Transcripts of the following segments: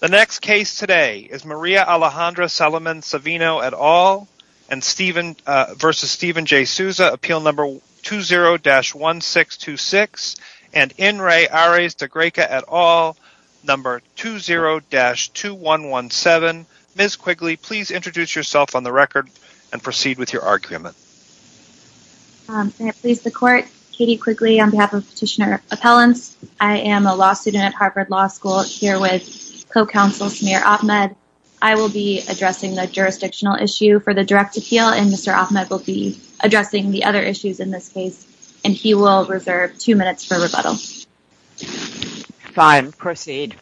The next case today is Maria Alejandra Salimen Savino et al. v. Steven J. Souza, appeal number 20-1626, and Inres Ares de Greca et al., number 20-2117. Ms. Quigley, please introduce yourself on the record and proceed with your argument. May it please the court, Katie Quigley on behalf of Petitioner Appellants. I am a law student at Harvard Law School here with co-counsel Samir Ahmed. I will be addressing the jurisdictional issue for the direct appeal and Mr. Ahmed will be addressing the other issues in this case, and he will reserve two minutes for rebuttal. Fine. Proceed.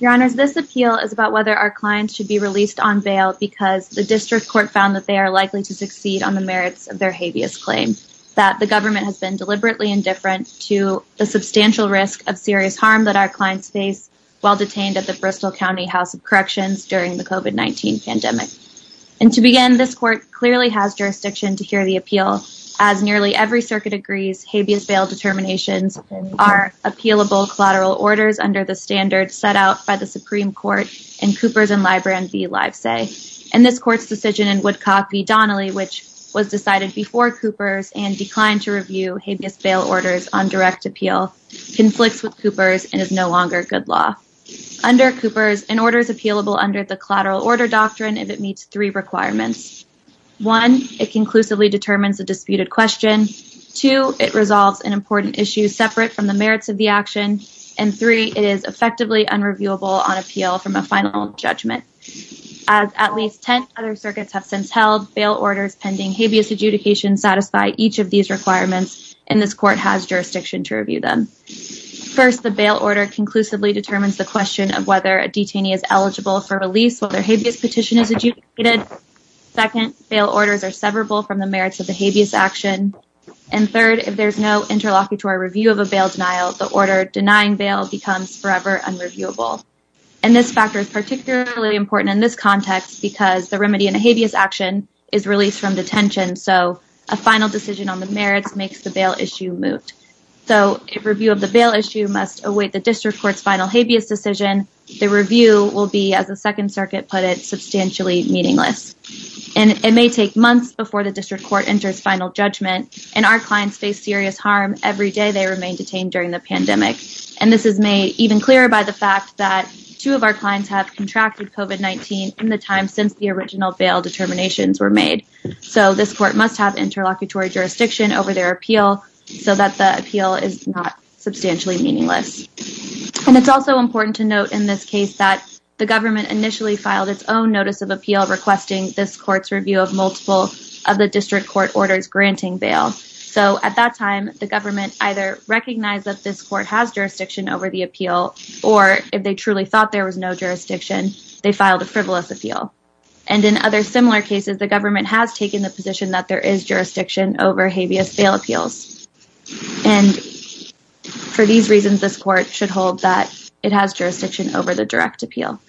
Your Honors, this appeal is about whether our clients should be released on bail because the district court found that they are likely to succeed on the merits of their habeas claim, the government has been deliberately indifferent to the substantial risk of serious harm that our clients face while detained at the Bristol County House of Corrections during the COVID-19 pandemic. And to begin, this court clearly has jurisdiction to hear the appeal, as nearly every circuit agrees habeas bail determinations are appealable collateral orders under the standard set out by the Supreme Court in Cooper's and Libran v. Livesay, and this court's decision in Woodcock v. declined to review habeas bail orders on direct appeal conflicts with Cooper's and is no longer good law. Under Cooper's, an order is appealable under the collateral order doctrine if it meets three requirements. One, it conclusively determines the disputed question. Two, it resolves an important issue separate from the merits of the action. And three, it is effectively unreviewable on appeal from a final judgment. As at least ten other circuits have since held, bail orders pending habeas adjudication satisfy each of these requirements, and this court has jurisdiction to review them. First, the bail order conclusively determines the question of whether a detainee is eligible for release while their habeas petition is adjudicated. Second, bail orders are severable from the merits of the habeas action. And third, if there's no interlocutory review of a bail denial, the order denying bail becomes forever unreviewable. And this factor is particularly important in this context because the remedy in a habeas action is released from detention, so a final decision on the merits makes the bail issue moot. So if review of the bail issue must await the district court's final habeas decision, the review will be, as the Second Circuit put it, substantially meaningless. And it may take months before the district court enters final judgment, and our clients face serious harm every day they remain detained during the pandemic. And this is made even clearer by the fact that two of our clients have contracted COVID-19 in the time since the original bail determinations were made. So this court must have interlocutory jurisdiction over their appeal so that the appeal is not substantially meaningless. And it's also important to note in this case that the government initially filed its own notice of appeal requesting this court's review of multiple of the district court orders granting bail. So at that time, the government either recognized that this court has jurisdiction over the And in other similar cases, the government has taken the position that there is jurisdiction over habeas bail appeals. And for these reasons, this court should hold that it has jurisdiction over the direct appeal.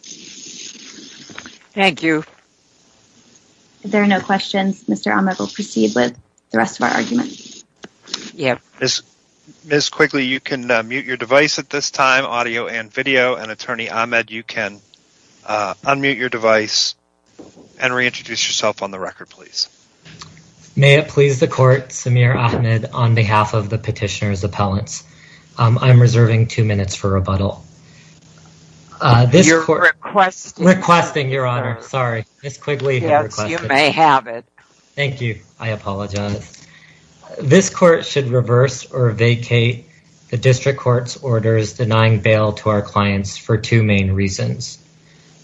Thank you. If there are no questions, Mr. Ahmed will proceed with the rest of our argument. Yeah. Ms. Quigley, you can mute your device at this time, audio and video. And Attorney Ahmed, you can unmute your device and reintroduce yourself on the record, please. May it please the court, Samir Ahmed on behalf of the petitioner's appellants. I'm reserving two minutes for rebuttal. You're requesting. Requesting, Your Honor. Sorry, Ms. Quigley. Yes, you may have it. Thank you. I apologize. This court should reverse or vacate the district court's orders denying bail to our clients for two main reasons.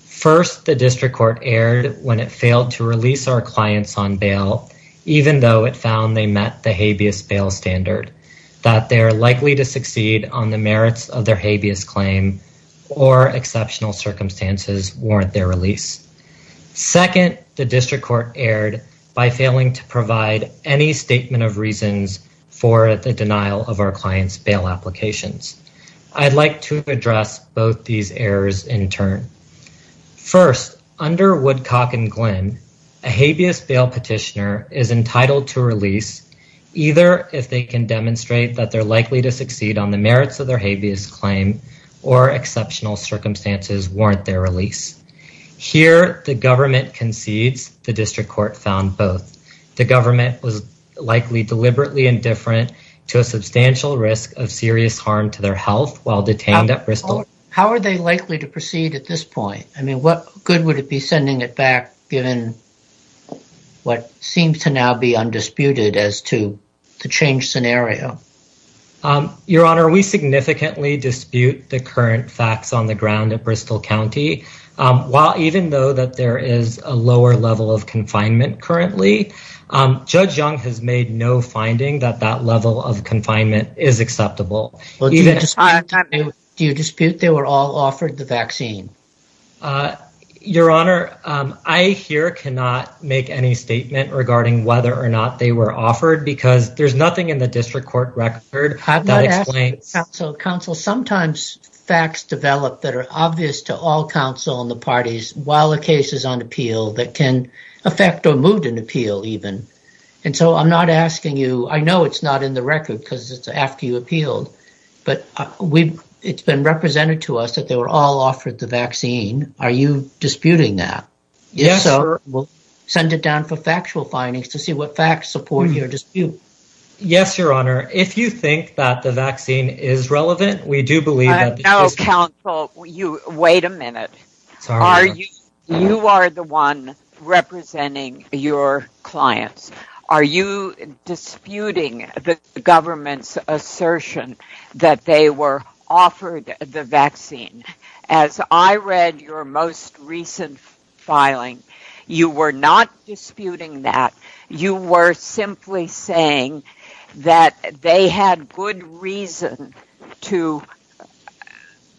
First, the district court erred when it failed to release our clients on bail, even though it found they met the habeas bail standard, that they are likely to succeed on the merits of their habeas claim or exceptional circumstances warrant their release. Second, the district court erred by failing to provide any statement of reasons for the denial of our clients' bail applications. I'd like to address both these errors in turn. First, under Woodcock and Glynn, a habeas bail petitioner is entitled to release either if they can demonstrate that they're likely to succeed on the merits of their habeas claim or exceptional circumstances warrant their release. Here, the government concedes. The district court found both. The government was likely deliberately indifferent to a substantial risk of serious harm to their health while detained at Bristol. How are they likely to proceed at this point? I mean, what good would it be sending it back given what seems to now be undisputed as to the change scenario? Your Honor, we significantly dispute the current facts on the ground at Bristol County. While even though that there is a lower level of confinement currently, Judge Young has made no finding that that level of confinement is acceptable. Do you dispute they were all offered the vaccine? Your Honor, I here cannot make any statement regarding whether or not they were offered because there's nothing in the district court record that explains... Counsel, sometimes facts develop that are obvious to all counsel and the parties while the case is on appeal that can affect or moot an appeal even. And so I'm not asking you, I know it's not in the record because it's after you appealed, but it's been represented to us that they were all offered the vaccine. Are you disputing that? Yes, sir. We'll send it down for factual findings to see what facts support your dispute. Yes, Your Honor. If you think that the vaccine is relevant, we do believe that... No, counsel, wait a minute. You are the one representing your clients. Are you disputing the government's assertion that they were offered the vaccine? As I read your most recent filing, you were not disputing that. You were simply saying that they had good reason to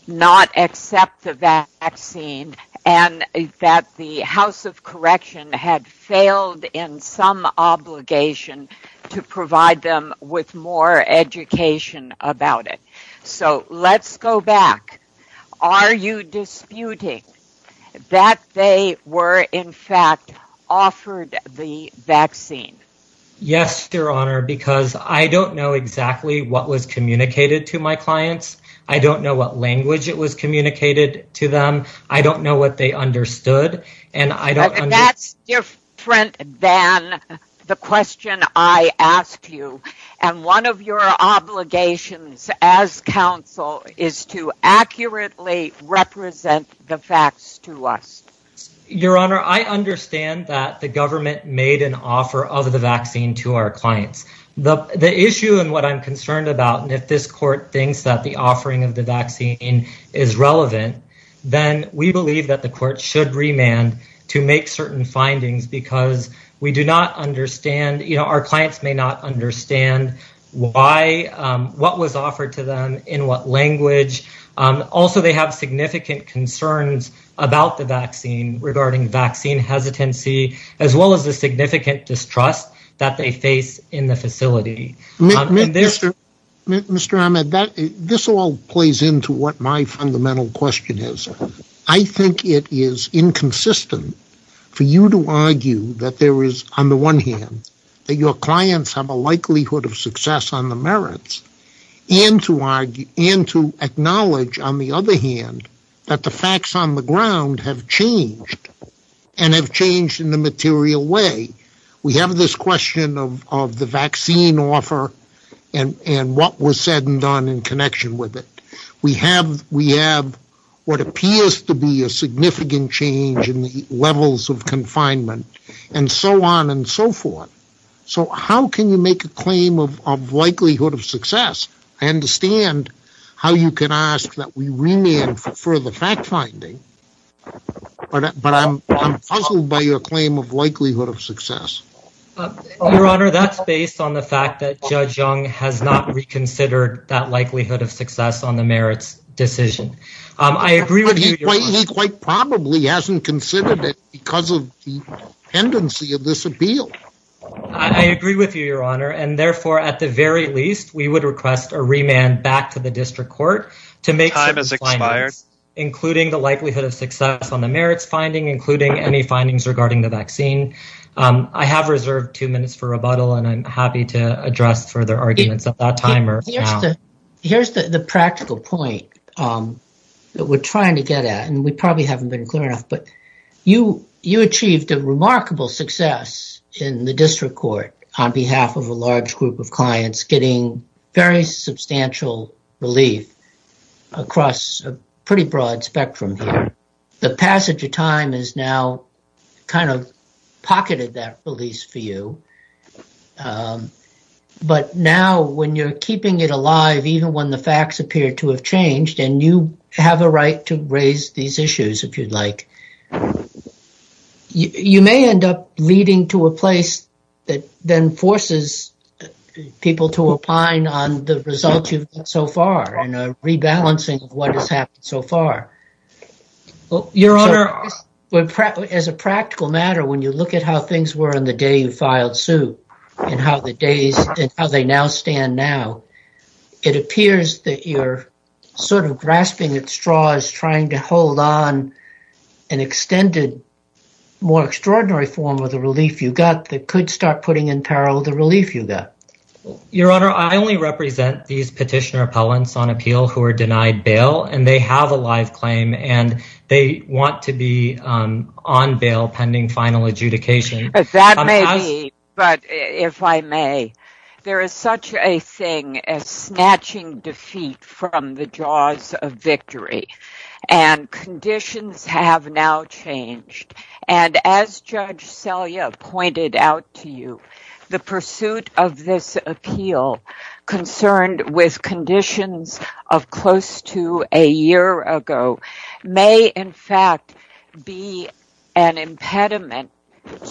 not accept the vaccine and that the House of Correction had failed in some obligation to provide them with more education about it. So let's go back. Are you disputing that they were, in fact, offered the vaccine? Yes, Your Honor, because I don't know exactly what was communicated to my clients. I don't know what language it was communicated to them. I don't know what they understood and I don't... That's different than the question I asked you. And one of your obligations as counsel is to accurately represent the facts to us. Your Honor, I understand that the government made an offer of the vaccine to our clients. The issue and what I'm concerned about, and if this court thinks that the offering of the vaccine is relevant, then we believe that the court should remand to make certain findings because we do not understand... Our clients may not understand what was offered to them in what language. Also, they have significant concerns about the vaccine regarding vaccine hesitancy as well as the significant distrust that they face in the facility. Mr. Ahmed, this all plays into what my fundamental question is. I think it is inconsistent for you to argue that there is, on the one hand, that your clients have a likelihood of success on the merits and to acknowledge, on the other hand, that the facts on the ground have changed and have changed in a material way. We have this question of the vaccine offer and what was said and done in connection with it. We have what appears to be a significant change in the levels of confinement and so on and so forth. So how can you make a claim of likelihood of success? I understand how you can ask that we remand for further fact-finding, but I'm puzzled by your claim of likelihood of success. Your Honor, that's based on the fact that Judge Young has not reconsidered that likelihood of success on the merits decision. I agree with you, Your Honor. He quite probably hasn't considered it because of the tendency of this appeal. I agree with you, Your Honor, and therefore, at the very least, we would request a remand back to the district court to make certain findings, including the likelihood of success on the merits finding, including any findings regarding the vaccine. I have reserved two minutes for rebuttal and I'm happy to address further arguments at that time. Here's the practical point that we're trying to get at and we probably haven't been clear enough, but you achieved a remarkable success in the district court on behalf of a large group of clients getting very substantial relief across a pretty broad spectrum. The passage of time has now kind of pocketed that release for you, but now when you're keeping it alive, even when the facts appear to have changed and you have a right to raise these issues, if you'd like, you may end up leading to a place that then forces people to opine on the results you've got so far and rebalancing what has happened so far. Your Honor, as a practical matter, when you look at how things were on the day you filed suit and how the days and how they now stand now, it appears that you're sort of grasping at straws, trying to hold on an extended, more extraordinary form of the relief you got that could start putting in peril the relief you got. Your Honor, I only represent these petitioner appellants on appeal who are denied bail and they have a live claim and they want to be on bail pending final adjudication. That may be, but if I may, there is such a thing as snatching defeat from the jaws of victory and conditions have now changed and as Judge Selye pointed out to you, the pursuit of this appeal concerned with conditions of close to a year ago may in fact be an impediment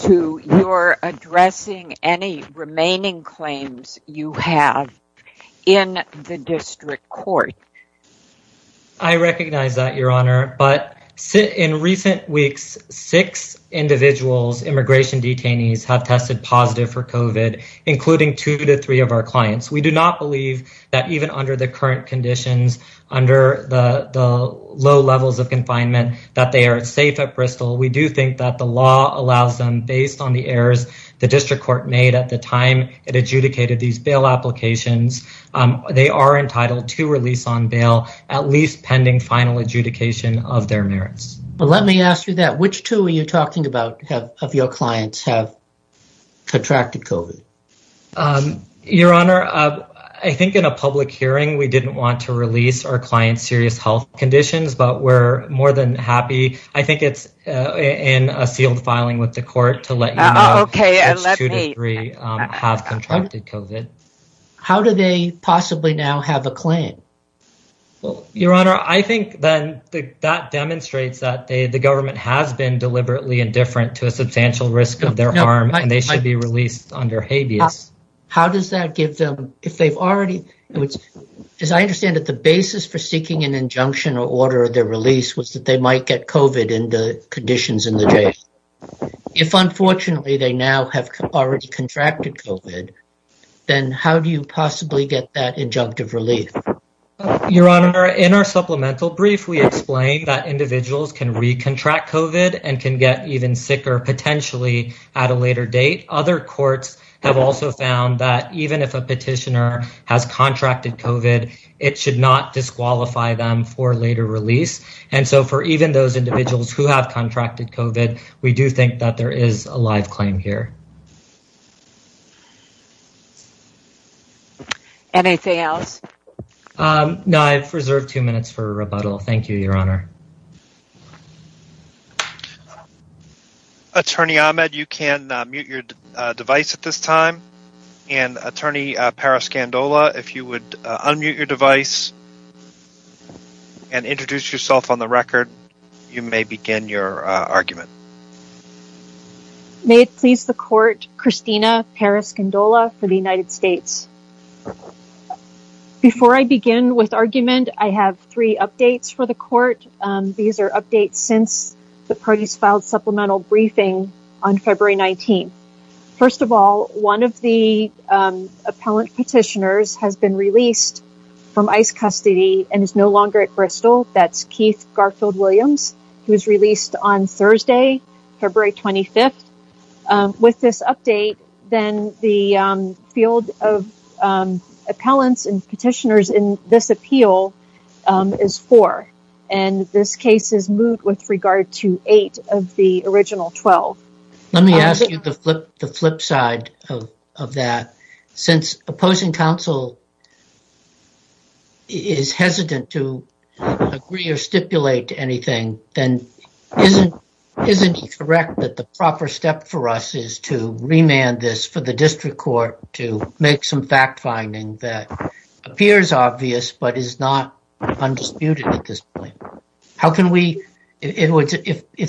to your addressing any remaining claims you have in the district court. I recognize that, Your Honor, but in recent weeks, six individuals, immigration detainees, have tested positive for COVID, including two to three of our clients. We do not believe that even under the current conditions, under the low levels of confinement, that they are safe at Bristol. We do think that the law allows them, based on the errors the district court made at the time it adjudicated these bail applications, they are entitled to release on bail, at least pending final adjudication of their merits. Let me ask you that. Which two are you talking about of your clients have contracted COVID? Um, Your Honor, I think in a public hearing, we didn't want to release our client's serious health conditions, but we're more than happy. I think it's in a sealed filing with the court to let you know which two to three have contracted COVID. How do they possibly now have a claim? Well, Your Honor, I think then that demonstrates that the government has been deliberately indifferent to a substantial risk of their harm, and they should be released under habeas. How does that give them, if they've already, as I understand it, the basis for seeking an injunction or order of their release was that they might get COVID in the conditions in the jail. If unfortunately they now have already contracted COVID, then how do you possibly get that injunctive relief? Your Honor, in our supplemental brief, we explained that individuals can recontract COVID and can get even sicker potentially at a later date. Other courts have also found that even if a petitioner has contracted COVID, it should not disqualify them for later release. And so for even those individuals who have contracted COVID, we do think that there is a live claim here. Anything else? No, I've reserved two minutes for rebuttal. Thank you, Your Honor. Attorney Ahmed, you can mute your device at this time. And Attorney Parascandola, if you would unmute your device and introduce yourself on the record, you may begin your argument. May it please the court, Christina Parascandola for the United States. Before I begin with argument, I have three updates for the court. These are updates since the parties filed supplemental briefing on February 19th. First of all, one of the appellant petitioners has been released from ICE custody and is no longer at Bristol. That's Keith Garfield Williams, who was released on Thursday, February 25th. With this update, then the field of appellants and petitioners in this appeal is four. And this case is moot with regard to eight of the original 12. Let me ask you the flip side of that. Since opposing counsel is hesitant to agree or stipulate anything, then isn't it correct that the proper step for us is to remand this for the district court to make some fact finding that appears obvious but is not undisputed at this point?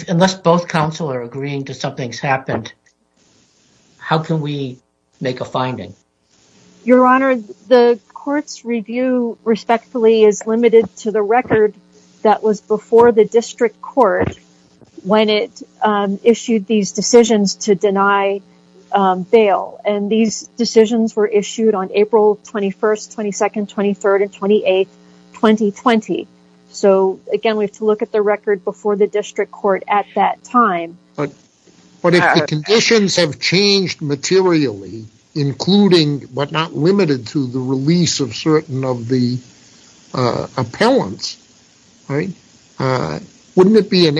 Unless both counsel are agreeing that something's happened, how can we make a finding? Your Honor, the court's review respectfully is limited to the record that was before the district court when it issued these decisions to deny bail. And these decisions were issued on April 21st, 22nd, 23rd, and 28th, 2020. So again, we have to look at the record before the district court at that time. But if the conditions have changed materially, including but not limited to the release of certain of the appellants, wouldn't it be an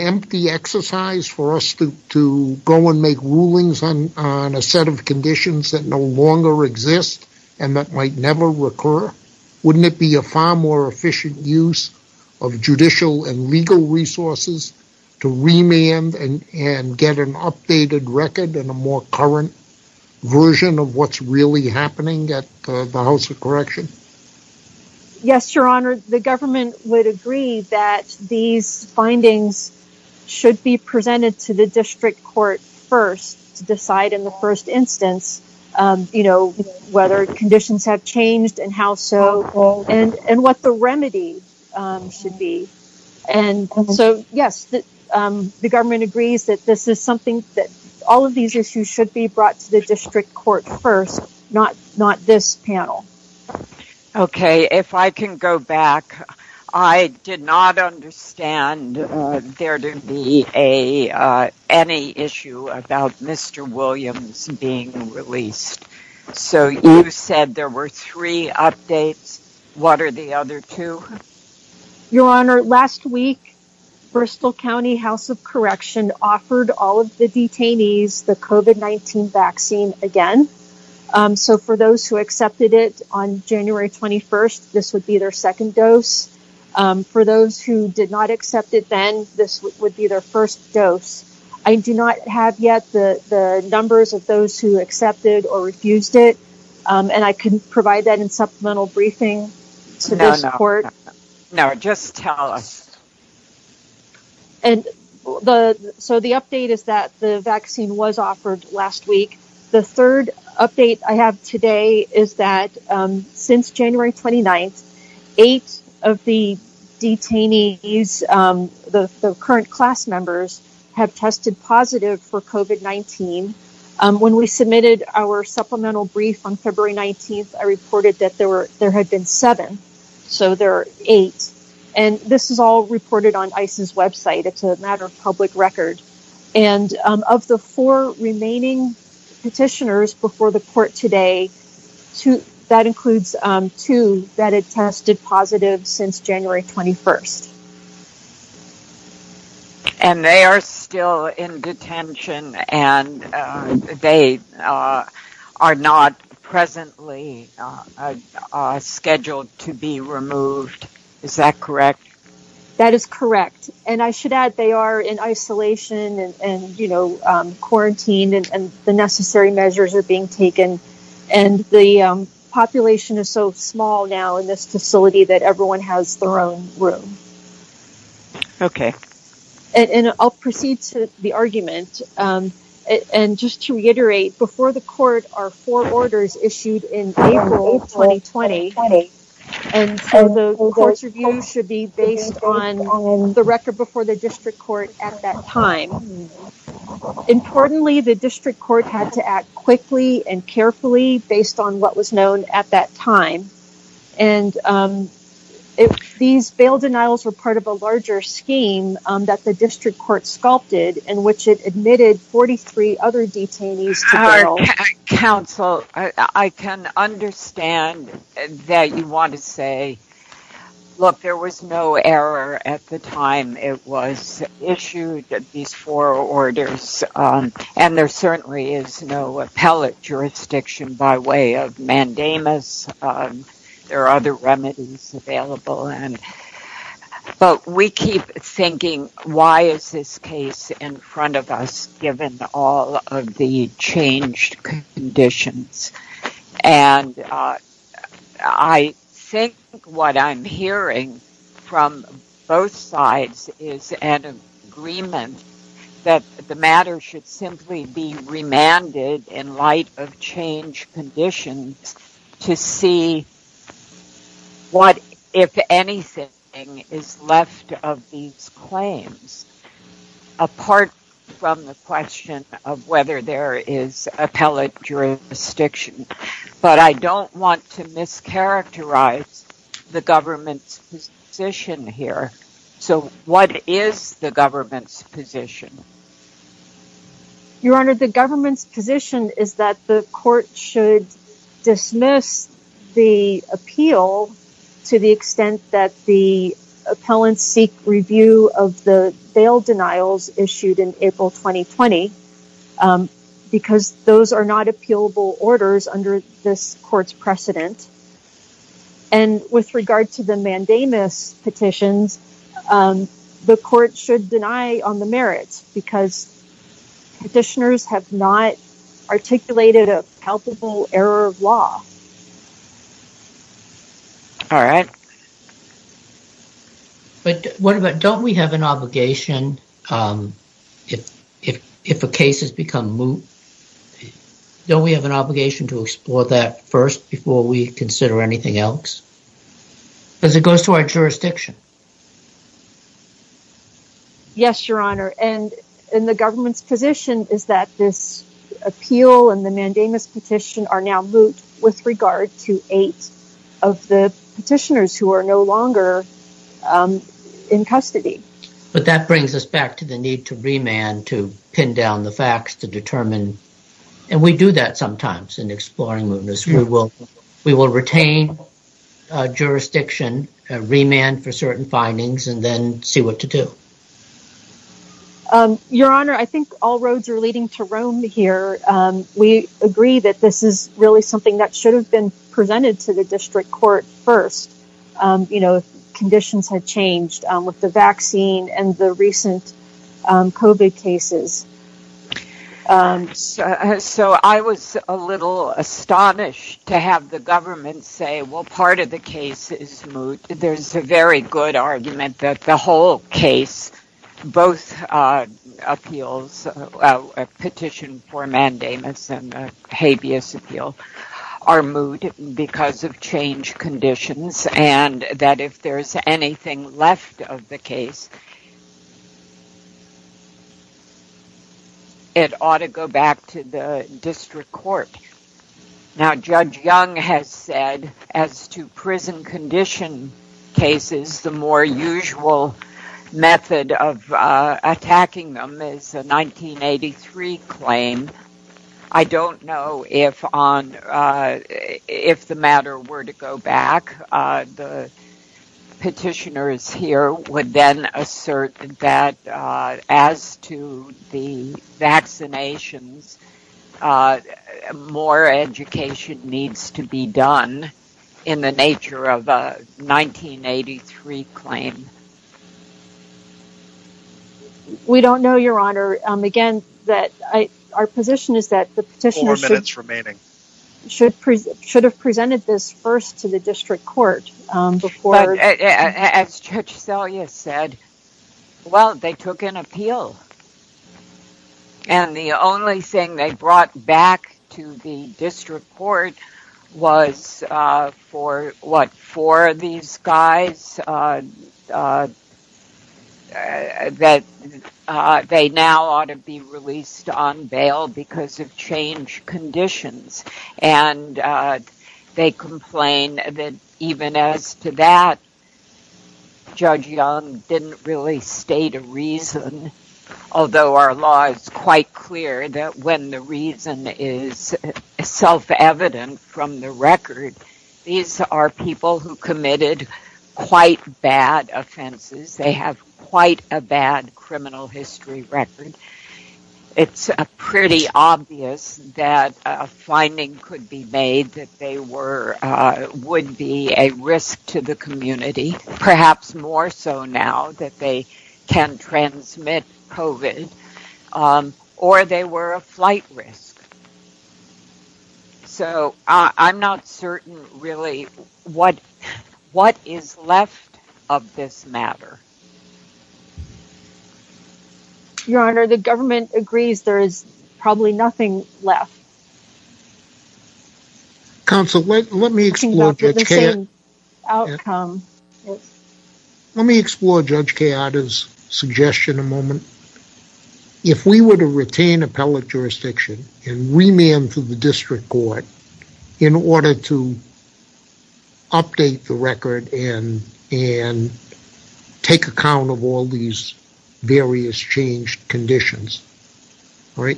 that might never recur? Wouldn't it be a far more efficient use of judicial and legal resources to remand and get an updated record and a more current version of what's really happening at the House of Correction? Yes, Your Honor. The government would agree that these findings should be presented to the district court first to decide in the first instance, you know, whether conditions have changed and how so and what the remedy should be. And so, yes, the government agrees that this is something that all of these issues should be brought to the district court first, not this panel. Okay. If I can go back, I did not understand there to be any issue about Mr. Williams being released. So you said there were three updates. What are the other two? Your Honor, last week, Bristol County House of Correction offered all of the detainees the COVID-19 vaccine again. So for those who accepted it on January 21st, this would be their second dose. For those who did not accept it then, this would be their first dose. I do not have yet the numbers of those who accepted or refused it. And I can provide that in supplemental briefing to this court. No, just tell us. And so the update is that the vaccine was offered last week. The third update I have today is that since January 29th, eight of the detainees, the current class members, have tested positive for COVID-19. When we submitted our supplemental brief on February 19th, I reported that there had been seven. So there are eight. And this is all reported on ICE's website. It's a matter of two that had tested positive since January 21st. And they are still in detention and they are not presently scheduled to be removed. Is that correct? That is correct. And I should add they are in isolation and quarantined and the necessary measures are being taken. And the population is so small now in this facility that everyone has their own room. Okay. And I'll proceed to the argument. And just to reiterate, before the court are four orders issued in April 2020. And so the court's review should be based on the record before the district court at that time. Importantly, the district court had to act quickly and carefully based on what was known at that time. And these bail denials were part of a larger scheme that the district court sculpted in which it admitted 43 other detainees. Counsel, I can understand that you want to say, look, there was no error at the time it was issued these four orders. And there certainly is no appellate jurisdiction by way of mandamus. There are other remedies available. But we keep thinking, why is this case in front of us given all of the changed conditions? And I think what I'm hearing from both sides is an agreement that the matter should simply be remanded in light of change conditions to see what, if anything, is left of these claims. Apart from the question of whether there is appellate jurisdiction. But I don't want to mischaracterize the government's position here. So what is the government's position? Your Honor, the government's position is that the appeal to the extent that the appellants seek review of the bail denials issued in April 2020, because those are not appealable orders under this court's precedent. And with regard to the mandamus petitions, the court should deny on the merits because petitioners have not All right. But what about, don't we have an obligation if a case has become moot? Don't we have an obligation to explore that first before we consider anything else? Because it goes to our jurisdiction. Yes, Your Honor. And the government's position is that this appeal and the mandamus petition are now moot with regard to eight of the petitioners who are no longer in custody. But that brings us back to the need to remand, to pin down the facts, to determine. And we do that sometimes in exploring movements. We will retain jurisdiction, remand for certain findings, and then see what to do. Your Honor, I think all roads are leading to Rome here. We agree that this is really something that should have been presented to the district court first, you know, conditions had changed with the vaccine and the recent COVID cases. So I was a little astonished to have the government say, well, part of the case is moot. There's a very good argument that the whole case, both appeals, petition for mandamus and habeas appeal are moot because of change conditions, and that if there's anything left of the case, it ought to go back to the district court. Now Judge Young has said as to prison condition cases, the more usual method of attacking them is a 1983 claim. I don't know if the matter were to go back. The petitioners here would then assert that as to the vaccinations, more education needs to be done in the nature of a 1983 claim. We don't know, Your Honor. Again, our position is that the petitioners should have presented this first to the district court. As Judge Selye said, well, they took an appeal and the only thing they brought back to the district court was for these guys that they now ought to be released on bail because of change conditions. And they complain that even as to that, Judge Young didn't really state a reason, although our law is quite clear that when the reason is self-evident from the record, these are people who committed quite bad offenses. They have quite a bad criminal history record. It's pretty obvious that a finding could be made that they would be a risk to the community, perhaps more so now that they can transmit COVID, or they were a flight risk. So, I'm not certain, really, what is left of this matter. Your Honor, the government agrees there is probably nothing left. Counsel, let me explore Judge Kayada's suggestion a moment. If we were to retain appellate jurisdiction and remand to the district court in order to update the record and take account of all these various changed conditions, would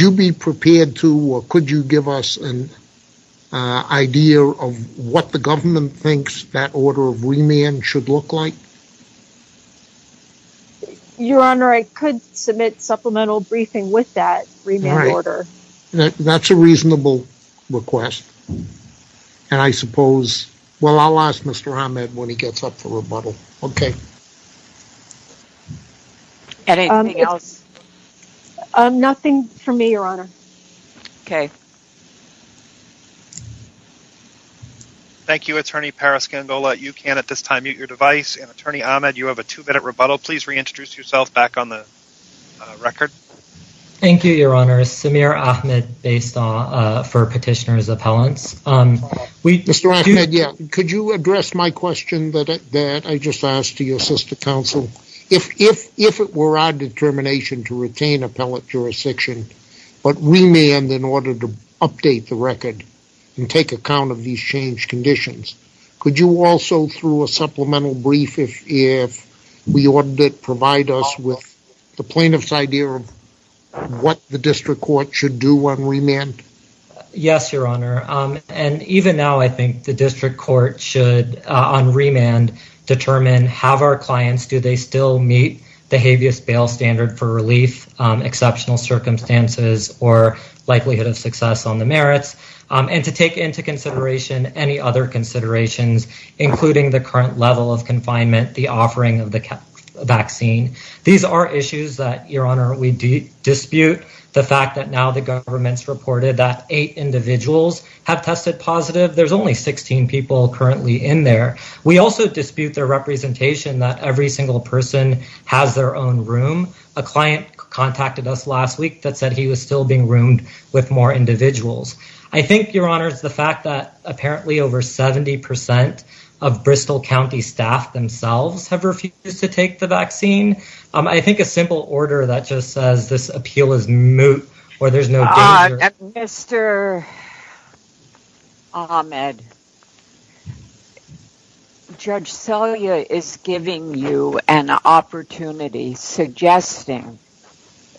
you be prepared to, or could you give us an idea of what the government thinks that order of remand should look like? Your Honor, I could submit supplemental briefing with that remand order. That's a reasonable request, and I suppose, well, I'll ask Mr. Ahmed when he gets up for rebuttal. Okay. Anything else? Nothing from me, Your Honor. Okay. Thank you, Attorney Paraskandola. You can, at this time, mute your device. And, introduce yourself back on the record. Thank you, Your Honor. Samir Ahmed, based for Petitioner's Appellants. Mr. Ahmed, yeah. Could you address my question that I just asked to your sister counsel? If it were our determination to retain appellate jurisdiction, but remand in order to update the record and take account of these changed conditions, could you also, through a supplemental brief, if we wanted it, provide us with the plaintiff's idea of what the district court should do on remand? Yes, Your Honor. And, even now, I think the district court should, on remand, determine have our clients, do they still meet the habeas bail standard for relief, exceptional circumstances, or likelihood of success on the merits, and to take into consideration any other considerations, including the current level of confinement, the offering of the vaccine. These are issues that, Your Honor, we dispute. The fact that now the government's reported that eight individuals have tested positive. There's only 16 people currently in there. We also dispute their representation that every single person has their own room. A client contacted us last week that he was still being roomed with more individuals. I think, Your Honor, it's the fact that apparently over 70% of Bristol County staff themselves have refused to take the vaccine. I think a simple order that just says this appeal is moot, or there's no danger. Mr. Ahmed, Judge Celia is giving you an opportunity, suggesting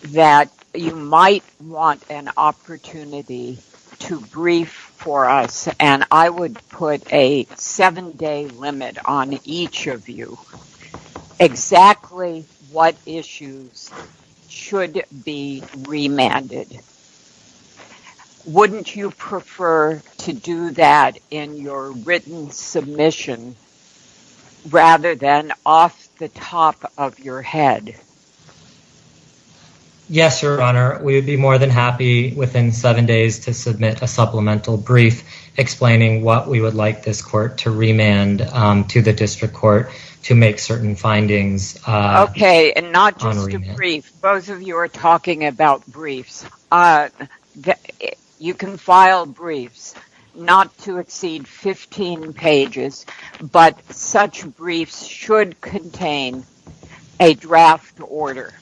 that you might want an opportunity to brief for us, and I would put a seven-day limit on each of you, exactly what issues should be remanded. Wouldn't you prefer to do that in your written submission, rather than off the top of your head? Yes, Your Honor, we would be more than happy within seven days to submit a supplemental brief explaining what we would like this court to remand to the district court to make certain findings. Okay, and not just a brief. Both of you are talking about briefs. You can file briefs, not to exceed 15 pages, but such briefs should contain a draft order.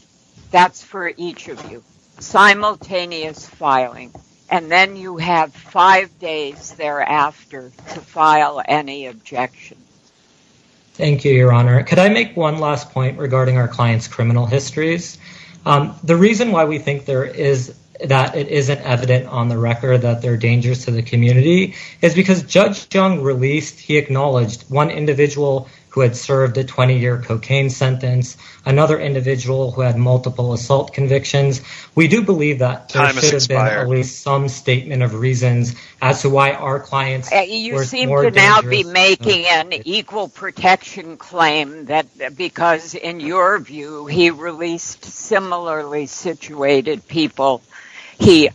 That's for each of you. Simultaneous filing, and then you have five days thereafter to file any objections. Thank you, Your Honor. Could I make one last point regarding our client's criminal histories? The reason why we think that it isn't evident on the record that they're dangerous to the community is because Judge Chung acknowledged one individual who had served a 20-year cocaine sentence, another individual who had multiple assault convictions. We do believe that there should be an equal protection claim because, in your view, he released similarly situated people. He,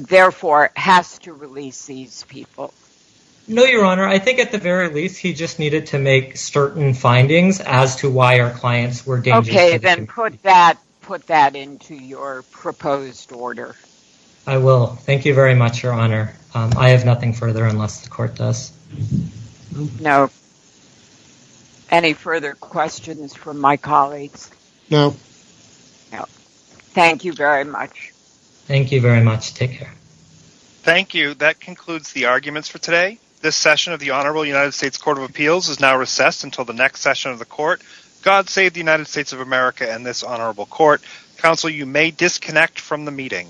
therefore, has to release these people. No, Your Honor. I think at the very least, he just needed to make certain findings as to why our clients were dangerous to the community. Okay, then put that into your proposed order. I will. Thank you very much, Your Honor. I have nothing further unless the court does. No. Any further questions from my colleagues? No. No. Thank you very much. Thank you very much. Take care. Thank you. That concludes the arguments for today. This session of the Honorable United States Court of Appeals is now recessed until the next session of the court. God save the United States of America and this honorable court. Counsel, you may disconnect from the meeting.